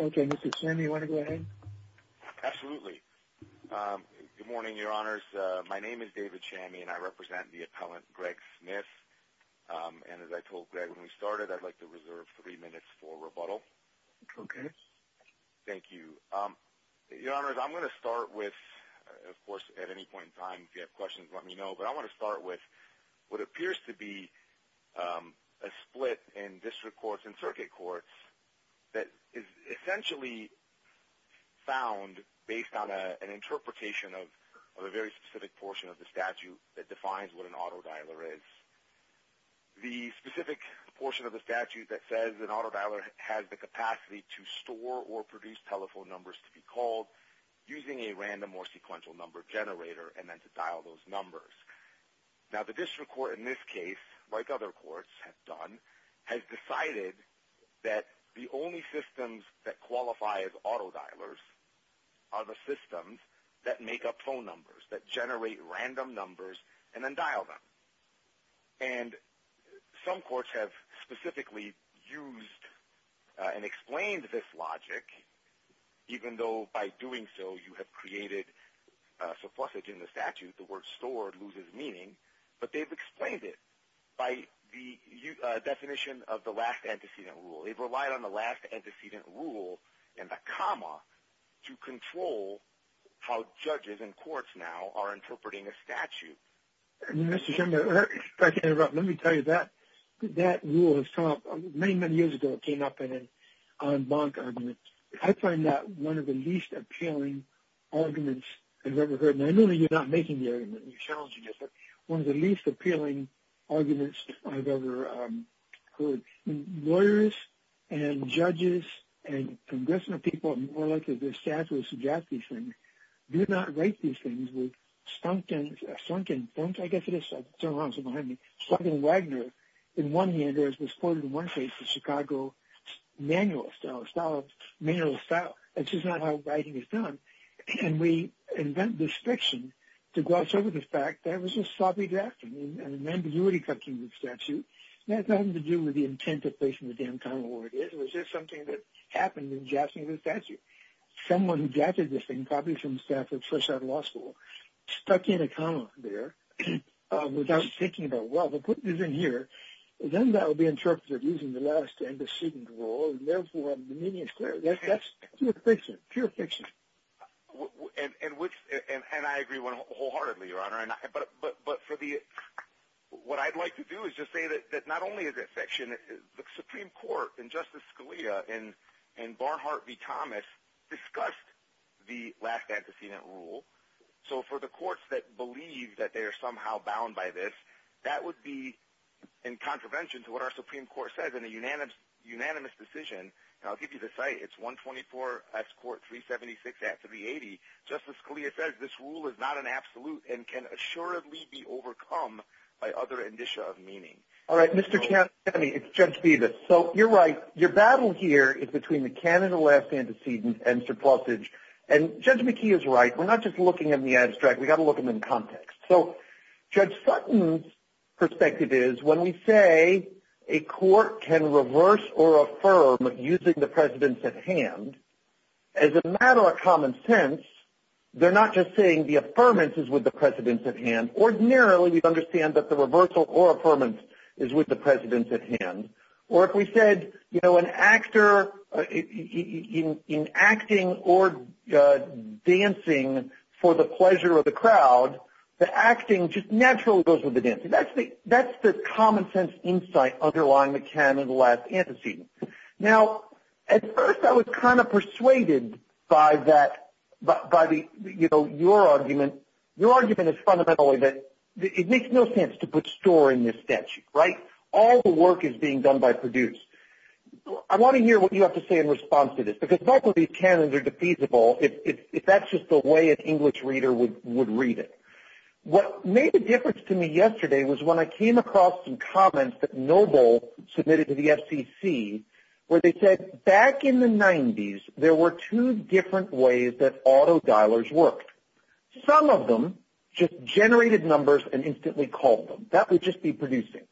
Okay, Mr. Chamey, want to go ahead? Absolutely. Um, good morning, Your Honors. My name is David Chamey and I represent the appellant, Greg Smith. And as I told Greg when we started, I'd like to reserve three minutes for rebuttal. Okay. Thank you. Um, Your Honors, I'm going to start with, of course, at any point in time, if you have questions, let me know, but I want to start with what appears to be, um, a split in district courts and circuit courts that is essentially found based on an interpretation of a very specific portion of the statute that defines what an autodialer is. The specific portion of the statute that says an autodialer has the capacity to store or produce telephone numbers to be called using a random or sequential number generator and then to dial those numbers. Now, the district court in this case, like other courts have done, has decided that the only systems that qualify as autodialers are the systems that make up phone numbers, that generate random numbers and then dial them. And some courts have specifically used and explained this logic, even though by doing so you have created suffusage in the statute, the word store loses meaning, but they've explained it by the definition of the last antecedent rule. They've relied on the last antecedent rule and the comma to control how judges and courts now are interpreting a statute. Mr. Schimler, if I can interrupt, let me tell you that that rule has come up many, many years ago. It came up in an en banc argument. I find that one of the least appealing arguments I've ever heard, and I know that you're not making the argument, you're challenging it, but one of the least appealing arguments I've ever heard. Lawyers and judges and congressional people are more likely to suggest these things, do not write these things with Stumpkin, I guess it is, I'm sorry, I'm sorry, behind me, Stumpkin-Wagner in one hand was quoted in one place in the Chicago Manual of Style, which is not how writing is done, and we invent this fiction to gloss over the fact that it was just sloppy drafting and an ambiguity cut to the statute. That has nothing to do with the intent of placing the damn comma where it is, it was just something that happened in drafting the statute. Someone who drafted this thing, probably from the staff of Trichardt Law School, stuck in a comma there without thinking about, well, they'll put this in here, then that will be interpreted using the last antecedent rule, and therefore the meaning is clear. That's pure fiction, pure fiction. And I agree wholeheartedly, Your Honor, but for the, what I'd like to do is just say that not only is it fiction, the Supreme Court and Justice Scalia and Barnhart v. Thomas discussed the last antecedent rule, and I believe that they are somehow bound by this. That would be in contravention to what our Supreme Court says in a unanimous decision, and I'll give you the site, it's 124 S. Court 376 Act 380. Justice Scalia says this rule is not an absolute and can assuredly be overcome by other indicia of meaning. All right, Mr. Chairman, it's Judge Bevis. So you're right, your battle here is between the canon of the last antecedent and surplusage, and Judge McKee is right, we're not just looking at the abstract, we've got to look at them in context. So Judge Sutton's perspective is when we say a court can reverse or affirm using the precedence at hand, as a matter of common sense, they're not just saying the affirmance is with the precedence at hand. Ordinarily, we'd understand that the reversal or affirmance is with the precedence at hand. Or if we said, you know, an actor in acting or dancing for the pleasure of the crowd, the acting just naturally goes with the dancing. That's the common sense insight underlying the canon of the last antecedent. Now, at first I was kind of persuaded by that, by the, you know, your argument. Your argument is fundamentally that it makes no sense to put store in this statute, right? All the work is being done by produced. I want to hear what you have to say in response to this, because both of these canons are defeasible if that's just the way an English reader would read it. What made a difference to me yesterday was when I came across some comments that Noble submitted to the FCC, where they said, back in the 90s, there were two different ways that auto-dialers worked. Some of them just generated numbers and instantly called them. That would just be producing.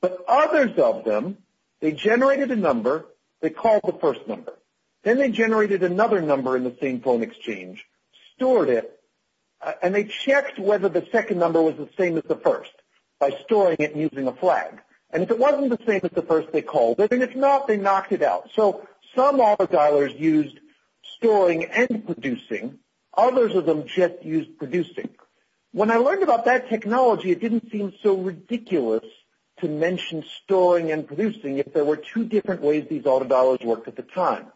But others of them, they generated a number, they called the first number. Then they generated another number in the same phone exchange, stored it, and they checked whether the second number was the same as the first by storing it and using a flag. And if it wasn't the same as the first, they called it. And if not, they knocked it out. So some auto-dialers used storing and producing. Others of them just used producing. When I learned about that technology, it didn't seem so ridiculous to mention storing and producing if there were two different ways these auto-dialers worked at the time.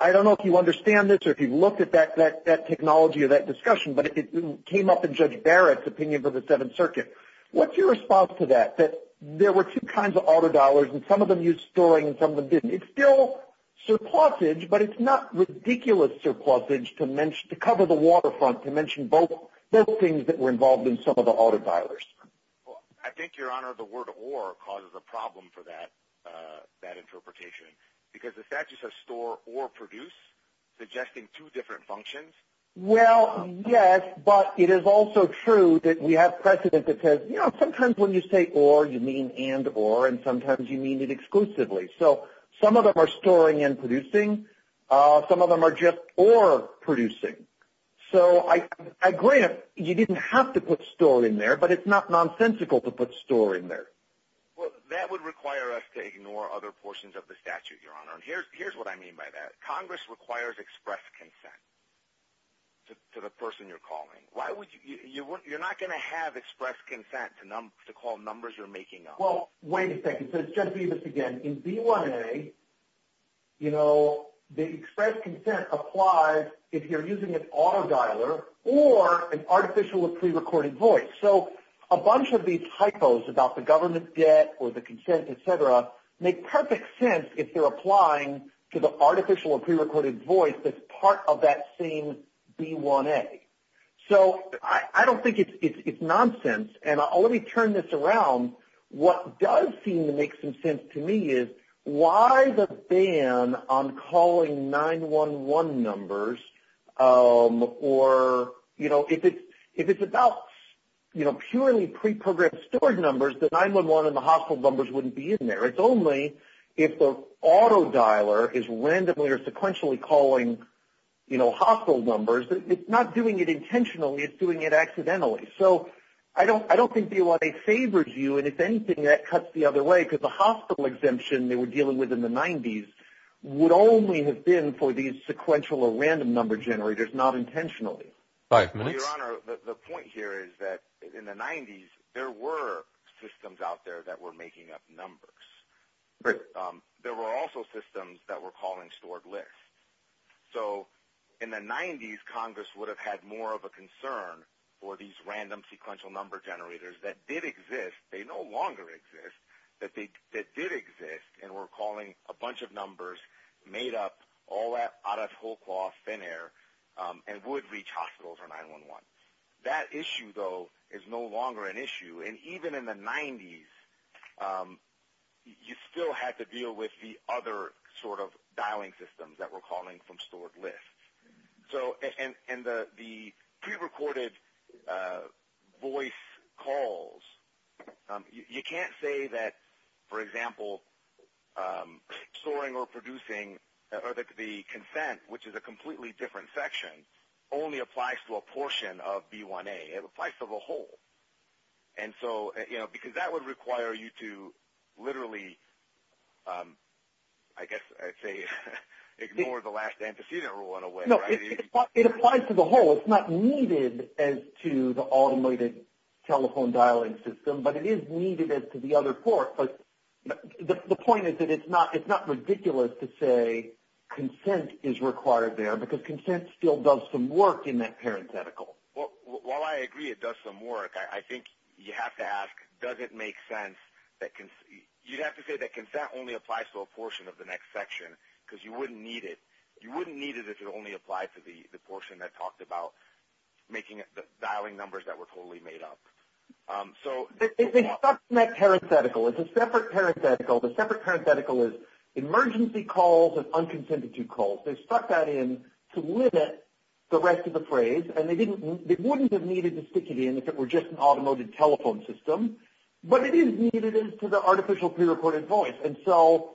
I don't know if you understand this or if you've looked at that technology or that discussion, but it came up in Judge Barrett's opinion for the Seventh Circuit. What's your response to that, that there were two kinds of auto-dialers and some of them used storing and some of them didn't? It's still surplusage, but it's not ridiculous surplusage to cover the waterfront to mention both things that were involved in some of the auto-dialers. Well, I think, Your Honor, the word or causes a problem for that interpretation because the statute says store or produce, suggesting two different functions. Well, yes, but it is also true that we have precedent that says, you know, sometimes when you say or, you mean and or, and sometimes you mean it exclusively. So some of them are storing and producing. Some of them are just or producing. So I agree, you didn't have to put store in there, but it's not nonsensical to put store in there. Well, that would require us to ignore other portions of the statute, Your Honor. And here's what I mean by that. Congress requires express consent to the person you're calling. Why would you, you're not going to have express consent to call numbers you're making up. Well, wait a second. Judge Bevis, again, in B1A, you know, the express consent applies if you're using an auto-dialer or an artificial or pre-recorded voice. So a bunch of these typos about the government debt or the consent, et cetera, make perfect sense if they're applying to the artificial or pre-recorded voice that's part of that same B1A. So I don't think it's nonsense. And let me turn this around. What does seem to make some sense to me is why the ban on calling 911 numbers or, you know, if it's about, you know, purely pre-programmed stored numbers, the 911 and the hospital numbers wouldn't be in there. It's only if the auto-dialer is randomly or sequentially calling, you know, hospital numbers. It's not doing it intentionally. It's doing it accidentally. So I don't think B1A favors you. And if anything, that cuts the other way. Because the hospital exemption they were dealing with in the 90s would only have been for these sequential or random number generators, not intentionally. Five minutes. Your Honor, the point here is that in the 90s, there were systems out there that were making up numbers. There were also systems that were calling stored lists. So in the 90s, Congress would have had more of a concern for these random sequential number generators that did exist. They no longer exist. That did exist and were calling a bunch of numbers made up all out of whole cloth, thin air, and would reach hospitals or 911. That issue, though, is no longer an issue. And even in the 90s, you still had to deal with the other sort of dialing systems that were calling from stored lists. So and the prerecorded voice calls, you can't say that, for example, storing or producing or the consent, which is a completely different section, only applies to a portion of B1A. It applies to the whole. And so, you know, because that would require you to literally, I guess I'd say, ignore the last antecedent rule in a way. No, it applies to the whole. It's not needed as to the automated telephone dialing system, but it is needed as to the other port. But the point is that it's not ridiculous to say consent is required there because consent still does some work in that parenthetical. Well, while I agree it does some work, I think you have to ask, does it make sense that – you'd have to say that consent only applies to a portion of the next section because you wouldn't need it. You wouldn't need it if it only applied to the portion that talked about making – dialing numbers that were totally made up. So – It's in that parenthetical. It's a separate parenthetical. The separate parenthetical is emergency calls and unconsented to calls. They stuck that in to limit the rest of the phrase and they didn't – they wouldn't have needed to stick it in if it were just an automated telephone system, but it is needed as to the artificial pre-recorded voice. And so,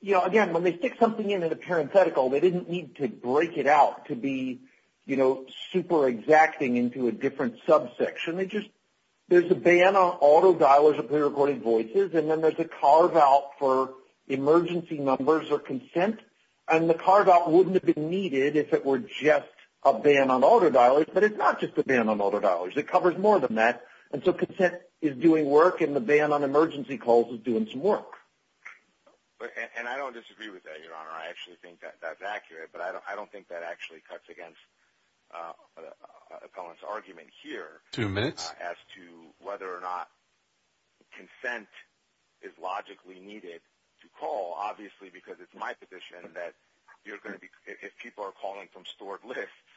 you know, again, when they stick something in in a parenthetical, they didn't need to break it out to be, you know, super exacting into a different subsection. They just – there's a ban on auto dialers of pre-recorded voices and then there's a carve out for emergency numbers or consent. And the carve out wouldn't have been needed if it were just a ban on auto dialers, but it's not just a ban on auto dialers. It covers more than that. And so consent is doing work and the ban on emergency calls is doing some work. But – and I don't disagree with that, Your Honor. I actually think that that's accurate, but I don't think that actually cuts against the opponent's argument here. Two minutes. As to whether or not consent is logically needed to call. Obviously, because it's my position that you're going to be – if people are calling from stored lists,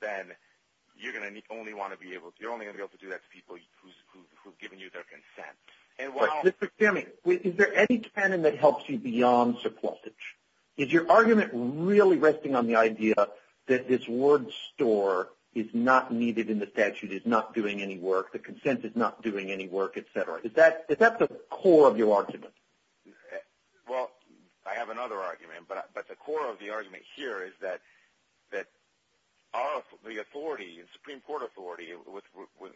then you're going to only want to be able – you're only going to be able to do that to people who've given you their consent. And while – Mr. Kamey, is there any canon that helps you beyond supportage? Is your argument really resting on the idea that this word store is not needed in the work, the consent is not doing any work, et cetera? Is that the core of your argument? Well, I have another argument, but the core of the argument here is that the authority – the Supreme Court authority,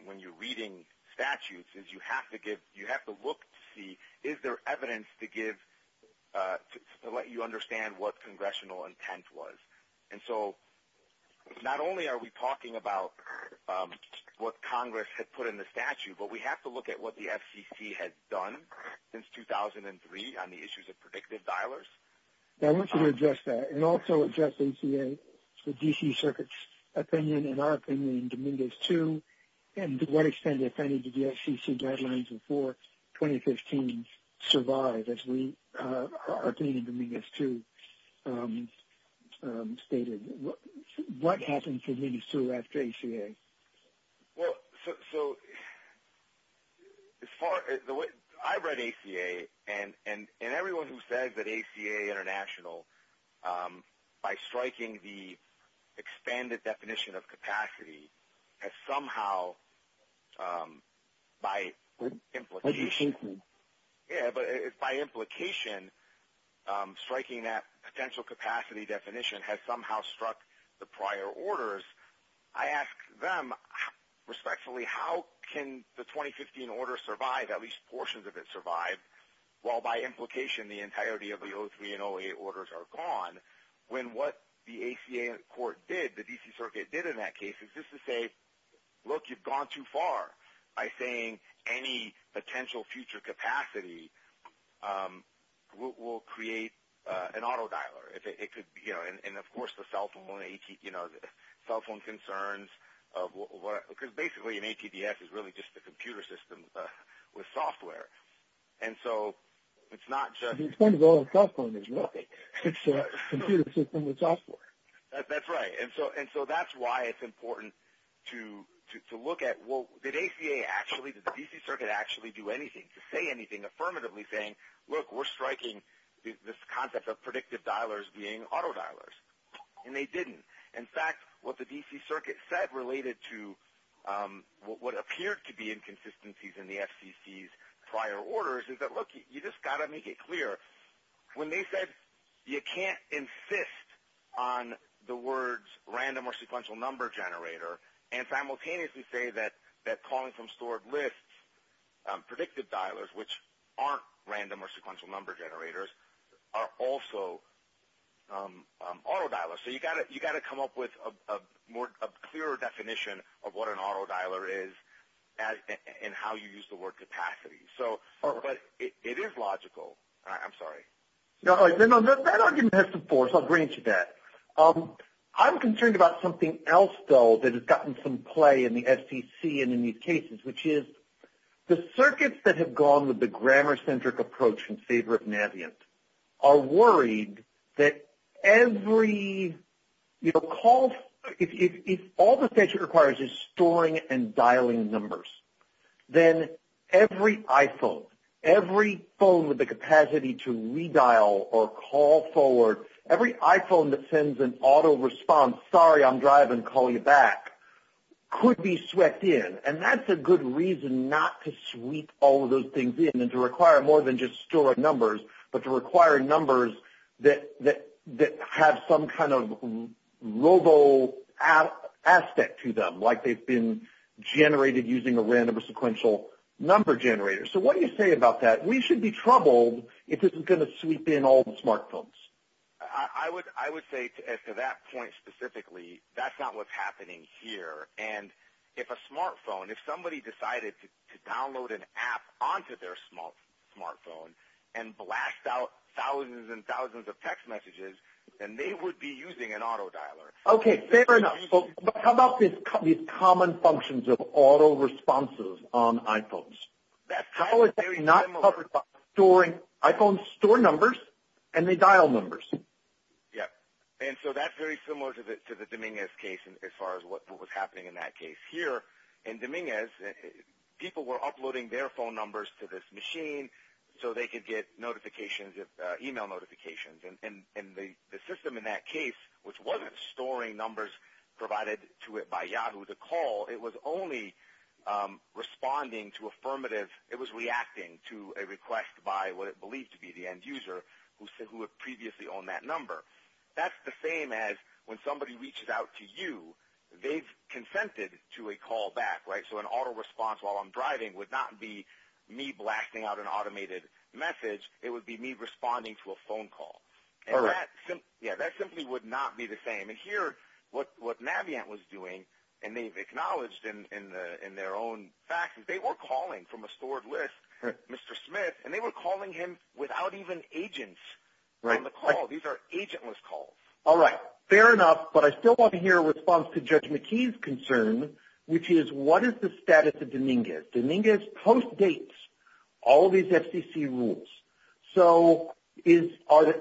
when you're reading statutes, is you have to give – you have to look to see is there evidence to give – to let you understand what congressional intent was. And so not only are we talking about what Congress had put in the statute, but we have to look at what the FCC has done since 2003 on the issues of predictive dialers. I want you to address that, and also address ACA, the D.C. Circuit's opinion, and our opinion in Dominguez 2, and to what extent did the FCC guidelines before 2015 survive as we – our opinion in Dominguez 2 stated? What happened to Dominguez 2 after ACA? Well, so as far – the way – I read ACA, and everyone who says that ACA International, by striking the expanded definition of capacity, has somehow, by implication – By the Supreme Court. Yeah, but it's by implication, striking that potential capacity definition has somehow struck the prior orders. I ask them, respectfully, how can the 2015 order survive, at least portions of it survive, while by implication the entirety of the 03 and 08 orders are gone, when what the ACA court did, the D.C. Circuit did in that case, is just to say, look, you've gone too far by saying any potential future capacity will create an autodialer. If it could be – and of course the cell phone AT – cell phone concerns of – because basically an ATDS is really just a computer system with software. And so it's not just – It's kind of a cell phone, isn't it? It's a computer system with software. That's right. And so that's why it's important to look at, well, did ACA actually, did the D.C. Circuit actually do anything to say anything affirmatively saying, look, we're striking this concept of predictive dialers being autodialers? And they didn't. In fact, what the D.C. Circuit said related to what appeared to be inconsistencies in the FCC's prior orders is that, look, you just got to make it clear. When they said you can't insist on the words random or sequential number generator and simultaneously say that calling from stored lists, predictive dialers, which aren't random or sequential number generators, are also autodialers. So you've got to come up with a clearer definition of what an autodialer is and how you use the word capacity. But it is logical. I'm sorry. No, that argument has some force. I'll bring it to that. I'm concerned about something else, though, that has gotten some play in the FCC and in these cases, which is the circuits that have gone with the grammar-centric approach in favor of Navient are worried that every, you know, if all the statute requires is storing and dialing numbers, then every iPhone, every phone with the capacity to redial or call forward, every iPhone that sends an auto response, sorry, I'm driving, call you back, could be swept in. And that's a good reason not to sweep all of those things in and to require more than just storing numbers, but to require numbers that have some kind of robo aspect to them, like they've been generated using a random or sequential number generator. So what do you say about that? We should be troubled if this is going to sweep in all the smartphones. I would say to that point specifically, that's not what's happening here. And if a smartphone, if somebody decided to download an app onto their smartphone and blast out thousands and thousands of text messages, then they would be using an autodialer. Okay, fair enough. So how about these common functions of auto responses on iPhones? How is that not covered by storing iPhone store numbers and the dial numbers? Yep. And so that's very similar to the Dominguez case as far as what was happening in that case. Here in Dominguez, people were uploading their phone numbers to this machine so they could get notifications, email notifications. And the system in that case, which wasn't storing numbers provided to it by Yahoo to call, it was only responding to affirmative. It was reacting to a request by what it believed to be the end user who had previously owned that number. That's the same as when somebody reaches out to you, they've consented to a call back, right? So an auto response while I'm driving would not be me blasting out an automated message. It would be me responding to a phone call. Yeah, that simply would not be the same. And here, what Navient was doing, and they've acknowledged in their own facts, they were calling from a stored list, Mr. Smith, and they were calling him without even agents on the call. These are agentless calls. All right, fair enough. But I still want to hear a response to Judge McKee's concern, which is what is the status of Dominguez? Dominguez postdates all of these FCC rules. So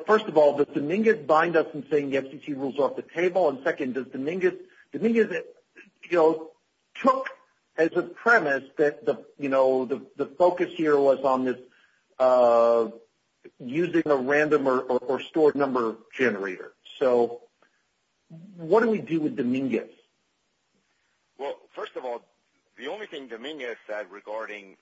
first of all, does Dominguez bind us in saying the FCC rules are off the table? And second, Dominguez took as a premise that the focus here was on using a random or stored number generator. So what do we do with Dominguez? Well, first of all, the only thing Dominguez said regarding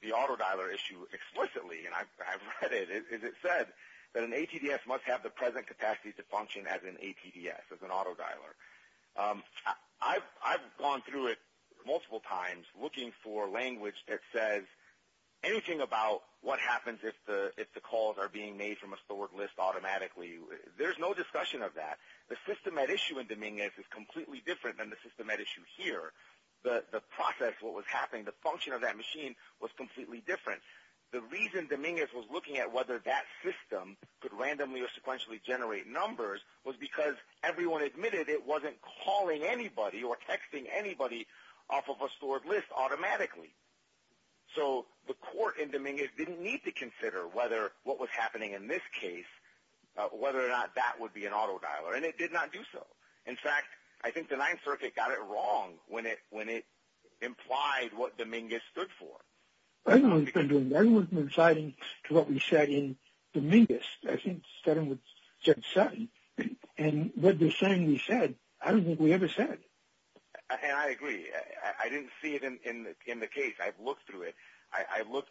the auto dialer issue explicitly, and I've read it, is it said that an ATDS must have the present capacity to function as an ATDS, as an auto dialer. I've gone through it multiple times looking for language that says anything about what happens if the calls are being made from a stored list automatically. There's no discussion of that. The system at issue in Dominguez is completely different than the system at issue here. The process, what was happening, the function of that machine was completely different. The reason Dominguez was looking at whether that system could randomly or sequentially generate numbers was because everyone admitted it wasn't calling anybody or texting anybody off of a stored list automatically. So the court in Dominguez didn't need to consider whether what was happening in this case, whether or not that would be an auto dialer. And it did not do so. In fact, I think the Ninth Circuit got it wrong when it implied what Dominguez stood for. I don't know what he's been doing. I don't know what he's been reciting to what we said in Dominguez. I think it started with Judge Sutton, and what they're saying he said, I don't think we ever said. And I agree. I didn't see it in the case. I've looked through it. I've looked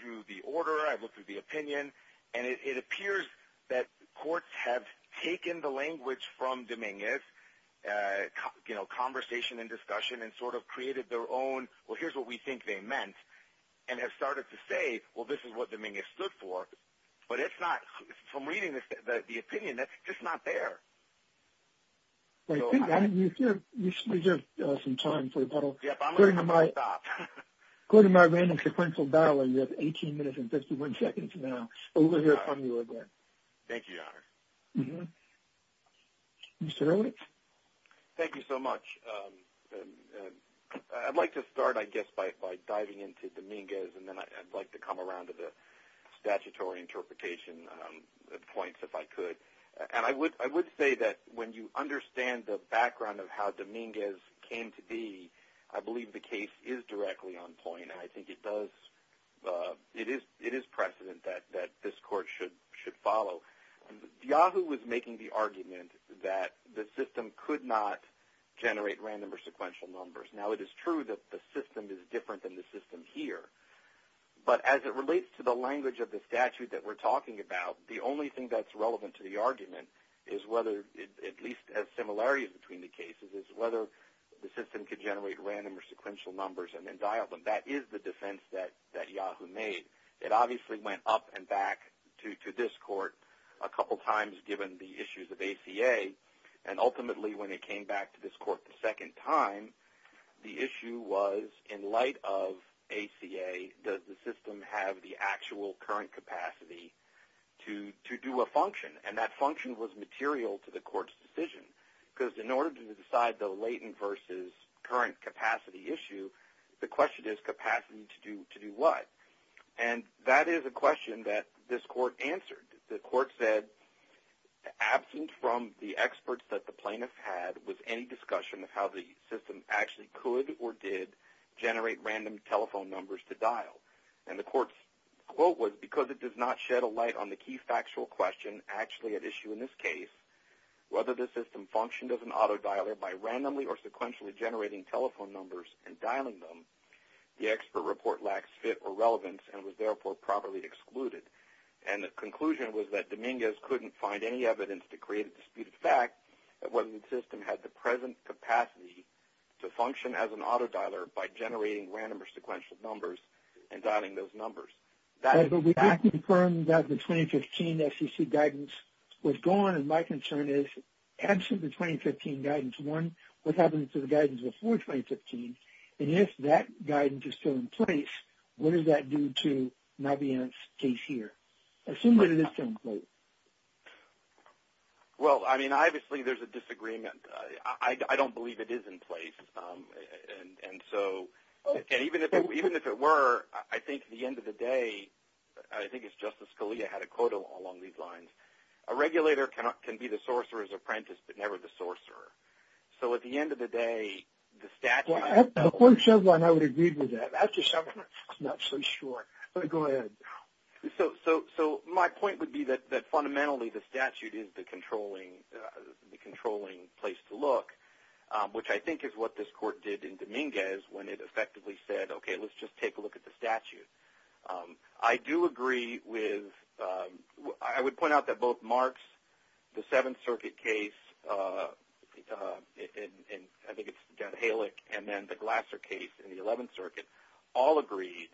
through the order. I've looked through the opinion. And it appears that courts have taken the language from Dominguez, you know, conversation and discussion, and sort of created their own, well, here's what we think they meant, and have started to say, well, this is what Dominguez stood for. But it's not, from reading the opinion, that's just not there. But I think you reserve some time for the panel. Yep, I'm going to stop. According to my random sequential dialer, you have 18 minutes and 51 seconds now. We'll hear from you again. Thank you, Your Honor. Mr. Ehrlich? Thank you so much. I'd like to start, I guess, by diving into Dominguez, and then I'd like to come around to the statutory interpretation points, if I could. And I would say that when you understand the background of how Dominguez came to be, I believe the case is directly on point. I think it does, it is precedent that this court should follow. Yahoo! was making the argument that the system could not generate random or sequential numbers. Now, it is true that the system is different than the system here. But as it relates to the language of the statute that we're talking about, the only thing that's relevant to the argument is whether, at least as similarities between the cases, is whether the system could generate random or sequential numbers and then dial them. That is the defense that Yahoo! made. It obviously went up and back to this court a couple times, given the issues of ACA. And ultimately, when it came back to this court the second time, the issue was, in light of ACA, does the system have the actual current capacity to do a function? And that function was material to the court's decision. Because in order to decide the latent versus current capacity issue, the question is capacity to do what? And that is a question that this court answered. The court said, absent from the experts that the plaintiffs had was any discussion of how the system actually could or did generate random telephone numbers to dial. And the court's quote was, because it does not shed a light on the key factual question actually at issue in this case, whether the system functioned as an autodialer by randomly or sequentially generating telephone numbers and dialing them, the expert report lacks fit or relevance and was therefore properly excluded. And the conclusion was that Dominguez couldn't find any evidence to create a disputed fact that whether the system had the present capacity to function as an autodialer by generating random or sequential numbers and dialing those numbers. But we did confirm that the 2015 SEC guidance was gone. And my concern is, absent the 2015 guidance one, what happened to the guidance before 2015? And if that guidance is still in place, what does that do to Navient's case here? Assume that it is still in place. Well, I mean, obviously there's a disagreement. I don't believe it is in place. And so even if it were, I think at the end of the day, I think it's Justice Scalia had a quote along these lines. A regulator can be the sorcerer's apprentice, but never the sorcerer. So at the end of the day, the statute... Well, at the court's deadline, I would agree with that. After some time, I'm not so sure. But go ahead. So my point would be that fundamentally the statute is the controlling place to look, which I think is what this court did in Dominguez when it effectively said, OK, let's just take a look at the statute. I do agree with... I would point out that both Mark's, the Seventh Circuit case, and I think it's Dan Halick, and then the Glasser case in the Eleventh Circuit, all agreed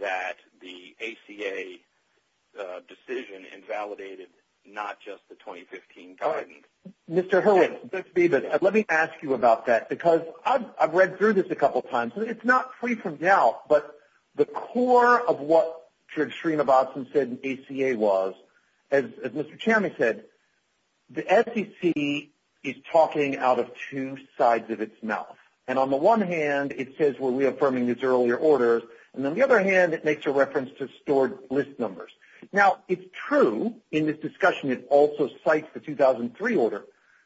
that the ACA decision invalidated not just the 2015 guidance. Mr. Hurwitz, let me ask you about that, because I've read through this a couple of times. It's not free from doubt, but the core of what Shreema Batson said the ACA was, as Mr. Chairman said, the SEC is talking out of two sides of its mouth. And on the one hand, it says we're reaffirming these earlier orders. And on the other hand, it makes a reference to stored list numbers. Now, it's true in this discussion it also cites the 2003 order.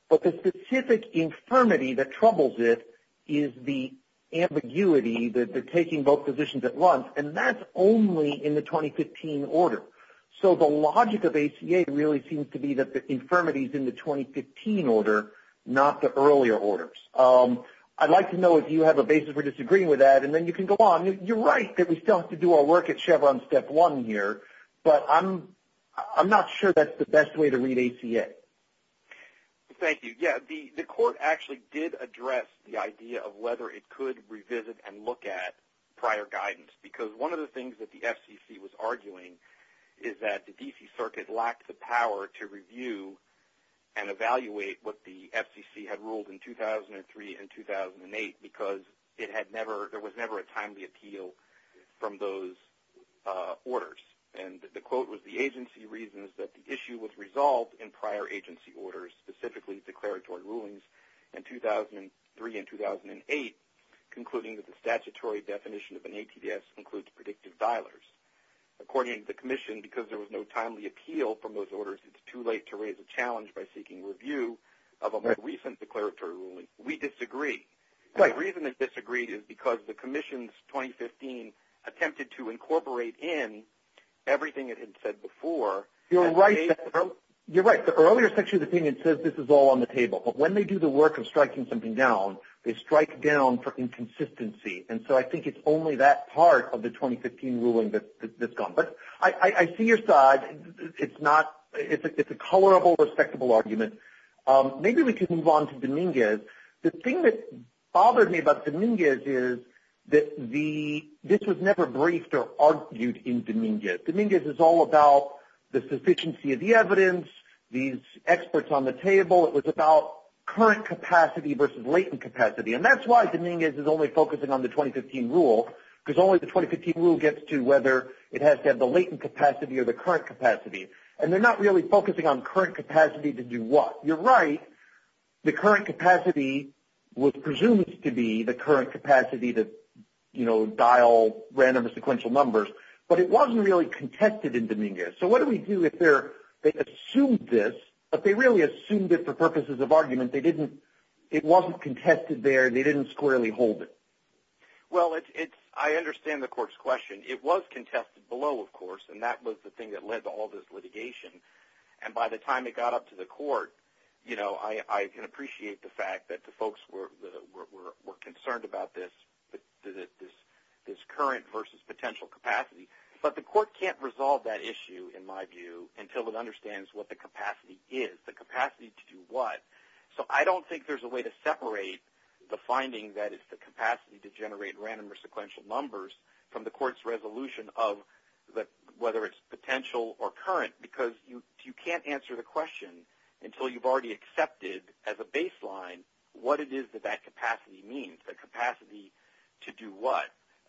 But the specific infirmity that troubles it is the ambiguity that they're taking both positions at once, and that's only in the 2015 order. So the logic of ACA really seems to be that the infirmity is in the 2015 order, not the earlier orders. I'd like to know if you have a basis for disagreeing with that, and then you can go on. You're right that we still have to do our work at Chevron step one here, but I'm not sure that's the best way to read ACA. Thank you. Yeah, the court actually did address the idea of whether it could revisit and look at prior guidance, because one of the things that the FCC was arguing is that the D.C. Circuit lacked the power to review and evaluate what the FCC had ruled in 2003 and 2008 because there was never a timely appeal from those orders. And the quote was, the agency reasons that the issue was resolved in prior agency orders, specifically declaratory rulings in 2003 and 2008, concluding that the statutory definition of an ATDS includes predictive dialers. According to the commission, because there was no timely appeal from those orders, it's too late to raise a challenge by seeking review of a more recent declaratory ruling. We disagree. The reason it disagreed is because the commission's 2015 attempted to incorporate in everything it had said before. You're right. You're right. The earlier section of the opinion says this is all on the table, but when they do the work of striking something down, they strike down for inconsistency. And so I think it's only that part of the 2015 ruling that's gone. But I see your side. It's not – it's a colorable, respectable argument. Maybe we can move on to Dominguez. The thing that bothered me about Dominguez is that the – this was never briefed or argued in Dominguez. Dominguez is all about the sufficiency of the evidence, these experts on the table. It was about current capacity versus latent capacity. And that's why Dominguez is only focusing on the 2015 rule, because only the 2015 rule gets to whether it has to have the latent capacity or the current capacity. And they're not really focusing on current capacity to do what. You're right. The current capacity was presumed to be the current capacity to, you know, dial random or sequential numbers. But it wasn't really contested in Dominguez. So what do we do if they're – they assumed this, but they really assumed it for purposes of argument. They didn't – it wasn't contested there. They didn't squarely hold it. It was contested below, of course. And that was the thing that led to all this litigation. And by the time it got up to the court, you know, I can appreciate the fact that the folks were concerned about this current versus potential capacity. But the court can't resolve that issue, in my view, until it understands what the capacity is, the capacity to do what. So I don't think there's a way to separate the finding that it's the capacity to generate random or sequential numbers from the court's resolution of whether it's potential or current. Because you can't answer the question until you've already accepted as a baseline what it is that that capacity means, the capacity to do what.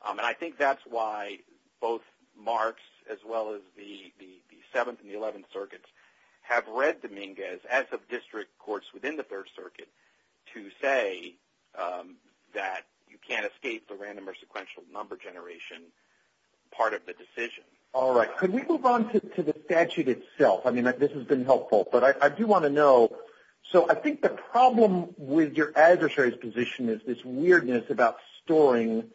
And I think that's why both Marx, as well as the 7th and the 11th Circuits, have read Dominguez, as have district courts within the 3rd Circuit, to say that you can't escape the possibility of the random or sequential number generation part of the decision. All right. Could we move on to the statute itself? I mean, this has been helpful. But I do want to know. So I think the problem with your adversary's position is this weirdness about storing.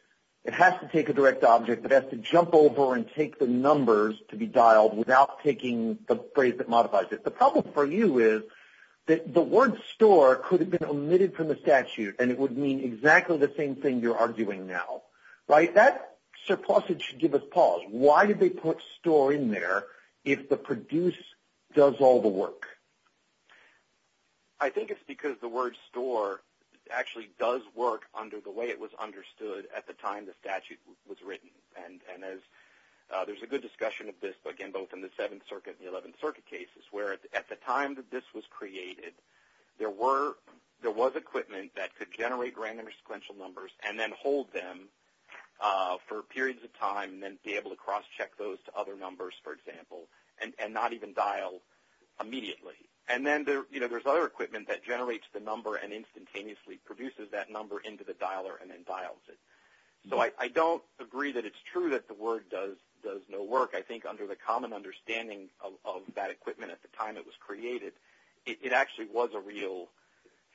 It has to take a direct object that has to jump over and take the numbers to be dialed without taking the phrase that modifies it. The problem for you is that the word store could have been omitted from the statute, and it would mean exactly the same thing you're arguing now, right? That surplusage should give us pause. Why did they put store in there if the produce does all the work? I think it's because the word store actually does work under the way it was understood at the time the statute was written. And there's a good discussion of this, again, both in the 7th Circuit and the 11th Circuit cases, where at the time that this was created, there was equipment that could generate random or sequential numbers and then hold them for periods of time and then be able to cross-check those to other numbers, for example, and not even dial immediately. And then there's other equipment that generates the number and instantaneously produces that number into the dialer and then dials it. So I don't agree that it's true that the word does no work. I think under the common understanding of that equipment at the time it was created, it actually was a real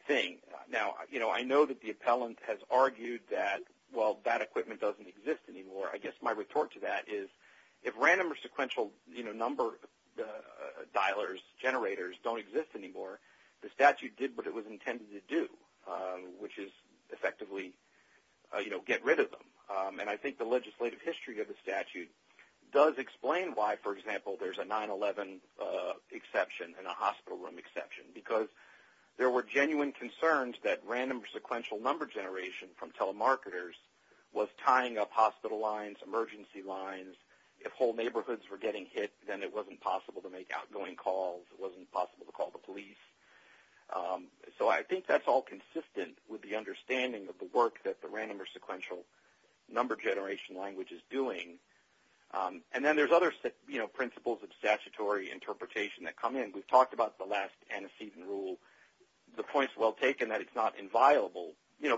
thing. Now, I know that the appellant has argued that, well, that equipment doesn't exist anymore. I guess my report to that is, if random or sequential number dialers, generators don't exist anymore, the statute did what it was intended to do, which is effectively get rid of them. And I think the legislative history of the statute does explain why, for example, there's a 9-11 exception and a hospital room exception, because there were genuine concerns that random or sequential number generation from telemarketers was tying up hospital lines, emergency lines. If whole neighborhoods were getting hit, then it wasn't possible to make outgoing calls. It wasn't possible to call the police. So I think that's all consistent with the understanding of the work that the random or sequential number generation language is doing. And then there's other principles of statutory interpretation that come in. We've talked about the last antecedent rule. The point's well taken that it's not inviolable,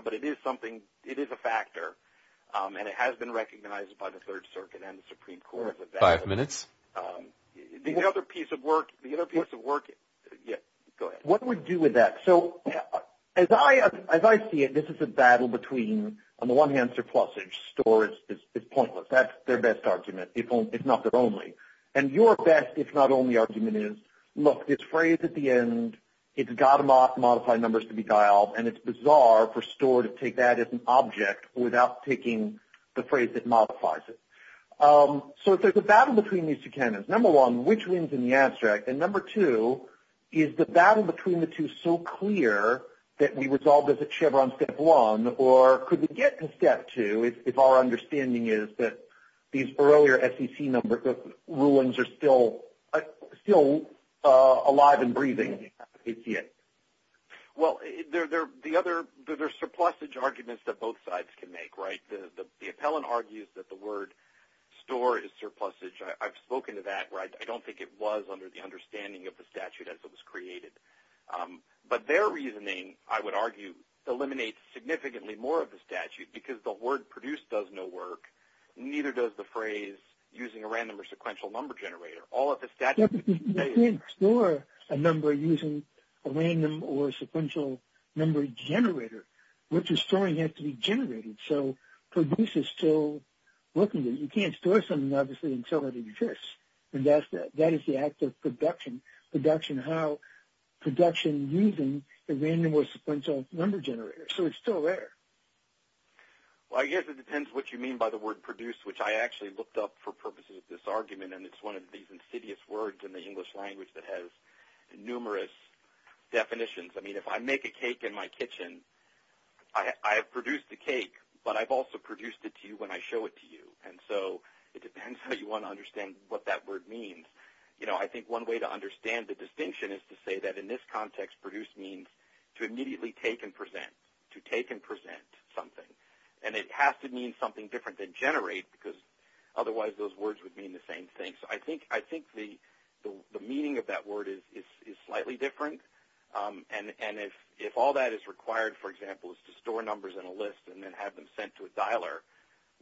but it is something, it is a factor, and it has been recognized by the Third Circuit and the Supreme Court as a fact. Five minutes. The other piece of work, the other piece of work, yeah, go ahead. What do we do with that? As I see it, this is a battle between, on the one hand, surplusage. Store is pointless. That's their best argument, if not their only. And your best, if not only, argument is, look, this phrase at the end, it's got to modify numbers to be dialed, and it's bizarre for store to take that as an object without taking the phrase that modifies it. So there's a battle between these two canons. Number one, which wins in the abstract? And number two, is the battle between the two so clear that we resolved as a chamber on step one, or could we get to step two if our understanding is that these earlier SEC number ruins are still alive and breathing, as we see it? Well, there are surplusage arguments that both sides can make, right? The appellant argues that the word store is surplusage. I've spoken to that, right? I don't think it was under the understanding of the statute as it was created. But their reasoning, I would argue, eliminates significantly more of the statute, because the word produce does no work, neither does the phrase using a random or sequential number generator. All of the statutes that you can say- You can't store a number using a random or sequential number generator. What you're storing has to be generated. So produce is still working. You can't store something, obviously, until it exists. And that is the act of production, how production using a random or sequential number generator. So it's still there. Well, I guess it depends what you mean by the word produce, which I actually looked up for purposes of this argument. And it's one of these insidious words in the English language that has numerous definitions. I mean, if I make a cake in my kitchen, I have produced the cake, but I've also produced it to you when I show it to you. And so it depends how you want to understand what that word means. I think one way to understand the distinction is to say that in this context, produce means to immediately take and present, to take and present something. And it has to mean something different than generate, because otherwise those words would mean the same thing. So I think the meaning of that word is slightly different. And if all that is required, for example, is to store numbers in a list and then have them sent to a dialer,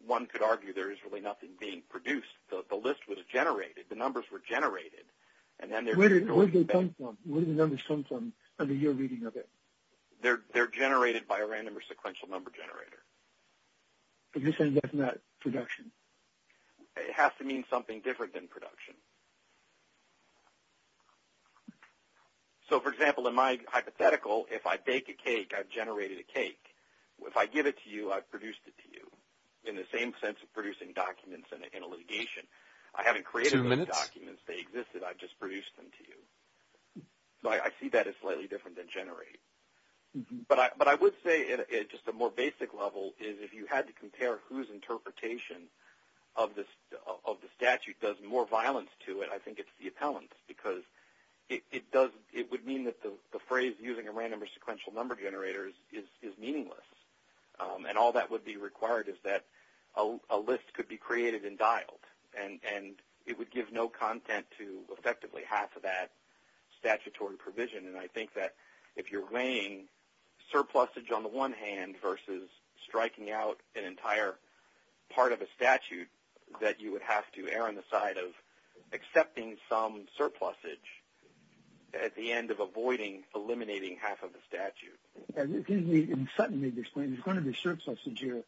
one could argue there is really nothing being produced. The list was generated. The numbers were generated. And then they're going to be— Where do they come from? Where do the numbers come from under your reading of it? They're generated by a random or sequential number generator. But you're saying that's not production? It has to mean something different than production. So, for example, in my hypothetical, if I bake a cake, I've generated a cake. If I give it to you, I've produced it to you, in the same sense of producing documents in a litigation. I haven't created those documents. They existed. I've just produced them to you. So I see that as slightly different than generate. But I would say, at just a more basic level, is if you had to compare whose interpretation of the statute does more violence to it, I think it's the appellant's. Because it would mean that the phrase using a random or sequential number generator is meaningless. And all that would be required is that a list could be created and dialed. And it would give no content to, effectively, half of that statutory provision. And I think that if you're weighing surplusage on the one hand versus striking out an entire part of a statute, that you would have to err on the side of accepting some surplusage at the end of avoiding eliminating half of the statute. And Sutton made this point. There's going to be surplusage here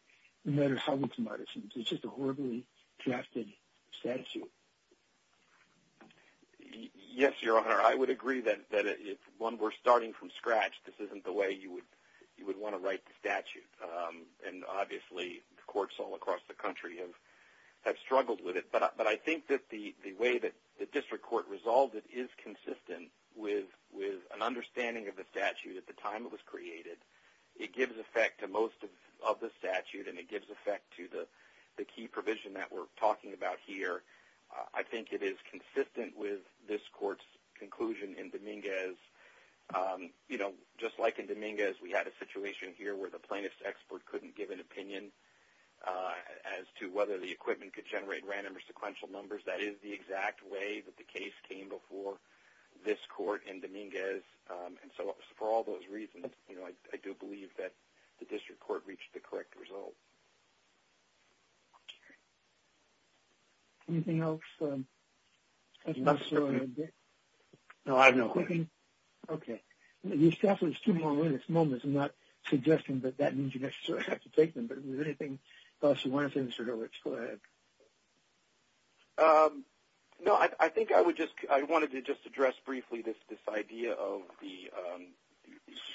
no matter how much you might assume. It's just a horribly drafted statute. Yes, Your Honor. I would agree that if one were starting from scratch, this isn't the way you would want to write the statute. And obviously, the courts all across the country have struggled with it. But I think that the way that the district court resolved it is consistent with an understanding of the statute at the time it was created. It gives effect to most of the statute. And it gives effect to the key provision that we're talking about here. I think it is consistent with this court's conclusion in Dominguez. Just like in Dominguez, we had a situation here where the plaintiff's expert couldn't give an opinion as to whether the equipment could generate random or sequential numbers. That is the exact way that the case came before this court in Dominguez. And so for all those reasons, I do believe that the district court reached the correct result. Anything else? No, I have no questions. Okay. Your staff is too long in this moment. I'm not suggesting that that means you necessarily have to take them. But if there's anything else you want to say, Mr. Horowitz, go ahead. No, I think I wanted to just address briefly this idea of the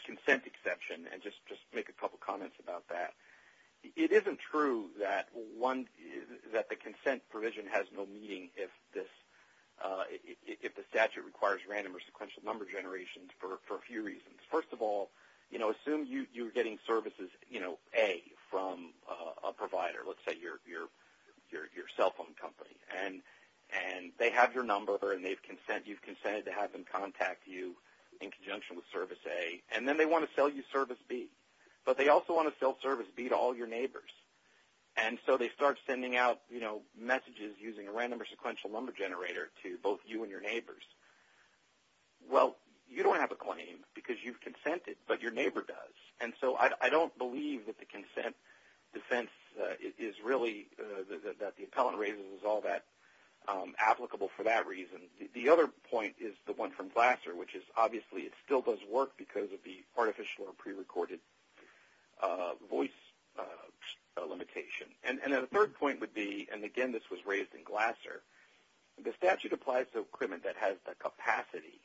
consent exception and just make a couple comments about that. It isn't true that the consent provision has no meaning if the statute requires random or sequential number generations for a few reasons. First of all, assume you're getting services, A, from a provider, let's say your cell phone company. And they have your number and you've consented to have them contact you in conjunction with service A, and then they want to sell you service B. But they also want to sell service B to all your neighbors. And so they start sending out messages using a random or sequential number generator to both you and your neighbors. Well, you don't have a claim because you've consented, but your neighbor does. And so I don't believe that the consent defense is really that the appellant raises is all that applicable for that reason. The other point is the one from Glasser, which is obviously it still does work because of the artificial or prerecorded voice limitation. And then the third point would be, and again, this was raised in Glasser, the statute applies to equipment that has the capacity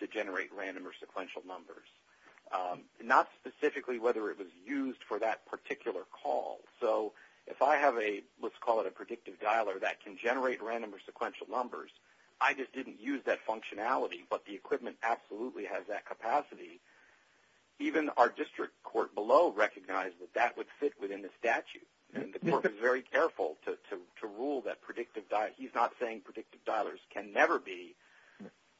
to generate random or sequential numbers. Not specifically whether it was used for that particular call. So if I have a, let's call it a predictive dialer that can generate random or sequential numbers, I just didn't use that functionality, but the equipment absolutely has that capacity. Even our district court below recognized that that would fit within the statute. And the court was very careful to rule that predictive dialer, he's not saying predictive dialers can never be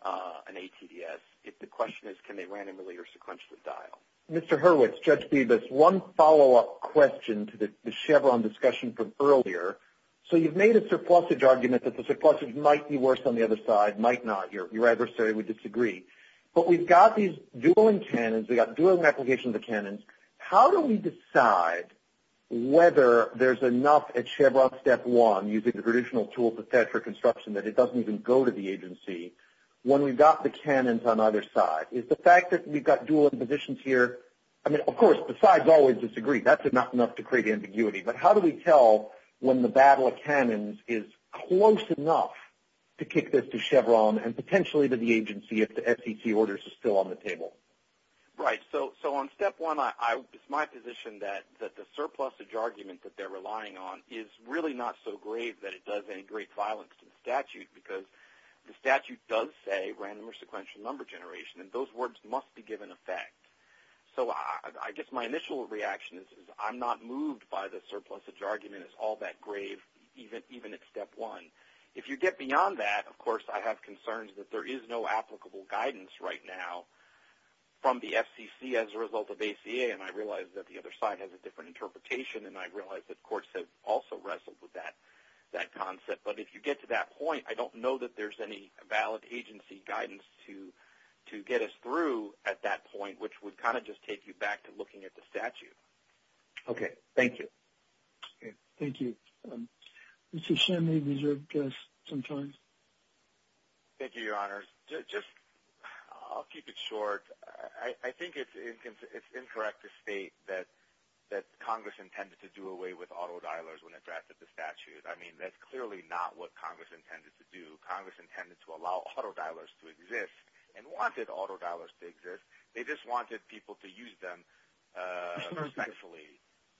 an ATDS. If the question is, can they randomly or sequentially dial? Mr. Hurwitz, Judge Bevis, one follow-up question to the Chevron discussion from earlier. So you've made a surplusage argument that the surplusage might be worse on the other side, might not. Your adversary would disagree. But we've got these dueling canons. We've got dueling applications of canons. How do we decide whether there's enough at Chevron step one, using the traditional tools of federal construction, that it doesn't even go to the agency, when we've got the canons on either side? Is the fact that we've got dueling positions here, I mean, of course, the sides always disagree. That's enough to create ambiguity. But how do we tell when the battle of canons is close enough to kick this to Chevron and potentially to the agency if the SEC orders are still on the table? Right. So on step one, it's my position that the surplusage argument that they're relying on is really not so grave that it does any great violence to the statute, because the statute does say random or sequential number generation. And those words must be given effect. So I guess my initial reaction is I'm not moved by the surplusage argument. It's all that grave, even at step one. If you get beyond that, of course, I have concerns that there is no applicable guidance right now from the FCC as a result of ACA. And I realize that the other side has a different interpretation. And I realize that courts have also wrestled with that concept. But if you get to that point, I don't know that there's any valid agency guidance to get us through at that point, which would kind of just take you back to looking at the statute. Okay. Thank you. Thank you. Mr. Shim, you have some time. Thank you, Your Honor. Just I'll keep it short. I think it's incorrect to state that Congress intended to do away with autodialers when it drafted the statute. I mean, that's clearly not what Congress intended to do. Congress intended to allow autodialers to exist and wanted autodialers to exist. They just wanted people to use them respectfully,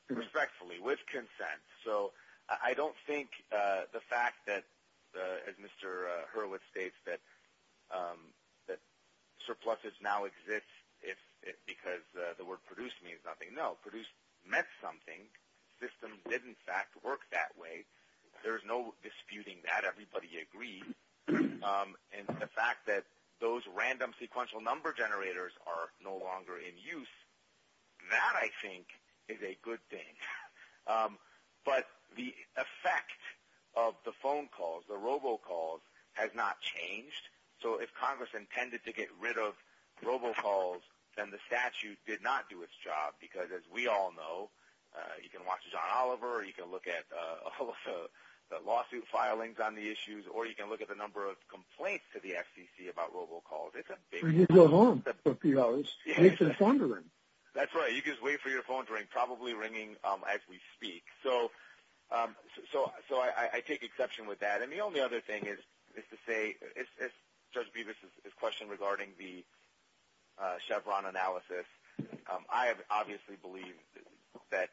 respectfully, with consent. So I don't think the fact that, as Mr. Hurwitz states, that surpluses now exist because the word produce means nothing. No, produce meant something. Systems did, in fact, work that way. There's no disputing that. Everybody agreed. And the fact that those random sequential number generators are no longer in use, that I think is a good thing. But the effect of the phone calls, the robocalls, has not changed. So if Congress intended to get rid of robocalls, then the statute did not do its job because, as we all know, you can watch John Oliver, you can look at the lawsuit filings on the issues, or you can look at the number of complaints to the FCC about robocalls. It's a big one. You can go home for a few hours and wait for the phone to ring. That's right. You can just wait for your phone to ring, probably ringing as we speak. So I take exception with that. And the only other thing is to say, as Judge Bevis' question regarding the Chevron analysis, I obviously believe that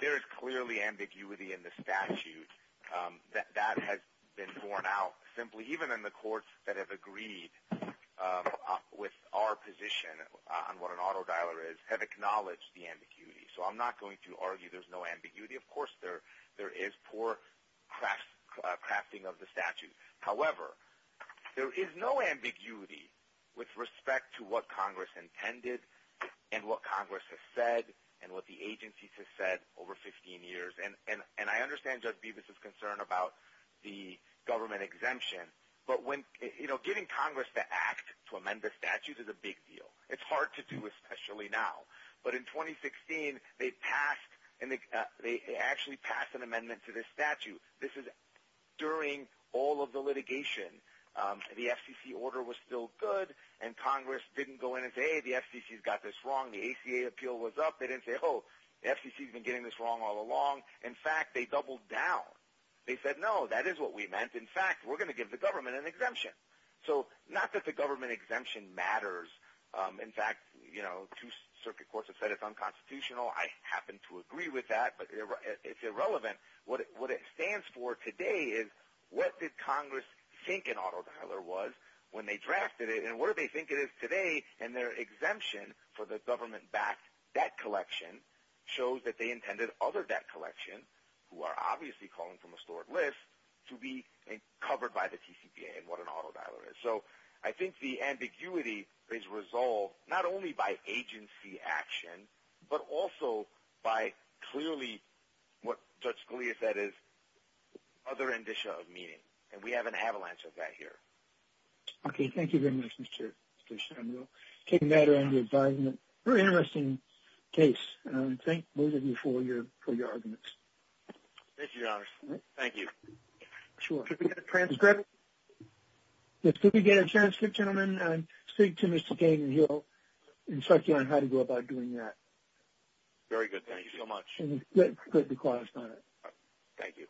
there is clearly ambiguity in the statute. That has been borne out simply. Even in the courts that have agreed with our position on what an auto dialer is, have acknowledged the ambiguity. So I'm not going to argue there's no ambiguity. Of course, there is poor crafting of the statute. However, there is no ambiguity with respect to what Congress intended and what Congress has said and what the agencies have said over 15 years. And I understand Judge Bevis' concern about the government exemption. But getting Congress to act to amend the statute is a big deal. It's hard to do, especially now. But in 2016, they actually passed an amendment to this statute. This is during all of the litigation. The FCC order was still good. And Congress didn't go in and say, hey, the FCC's got this wrong. The ACA appeal was up. They didn't say, oh, the FCC's been getting this wrong all along. In fact, they doubled down. They said, no, that is what we meant. In fact, we're going to give the government an exemption. So not that the government exemption matters. In fact, two circuit courts have said it's unconstitutional. I happen to agree with that. But it's irrelevant. What it stands for today is what did Congress think an auto dialer was when they drafted it? And what do they think it is today? And their exemption for the government-backed debt collection shows that they intended other debt collections, who are obviously calling from a stored list, to be covered by the TCPA and what an auto dialer is. I think the ambiguity is resolved not only by agency action, but also by clearly what Judge Scalia said is other indicia of meaning. And we have an avalanche of that here. Thank you very much, Mr. Samuel. Taking that around the advisement, very interesting case. Thank both of you for your arguments. Thank you, Your Honor. Thank you. Could we get a transcript? Yes, could we get a transcript, gentlemen? And speak to Mr. King and he'll instruct you on how to go about doing that. Very good. Thank you so much. Thank you.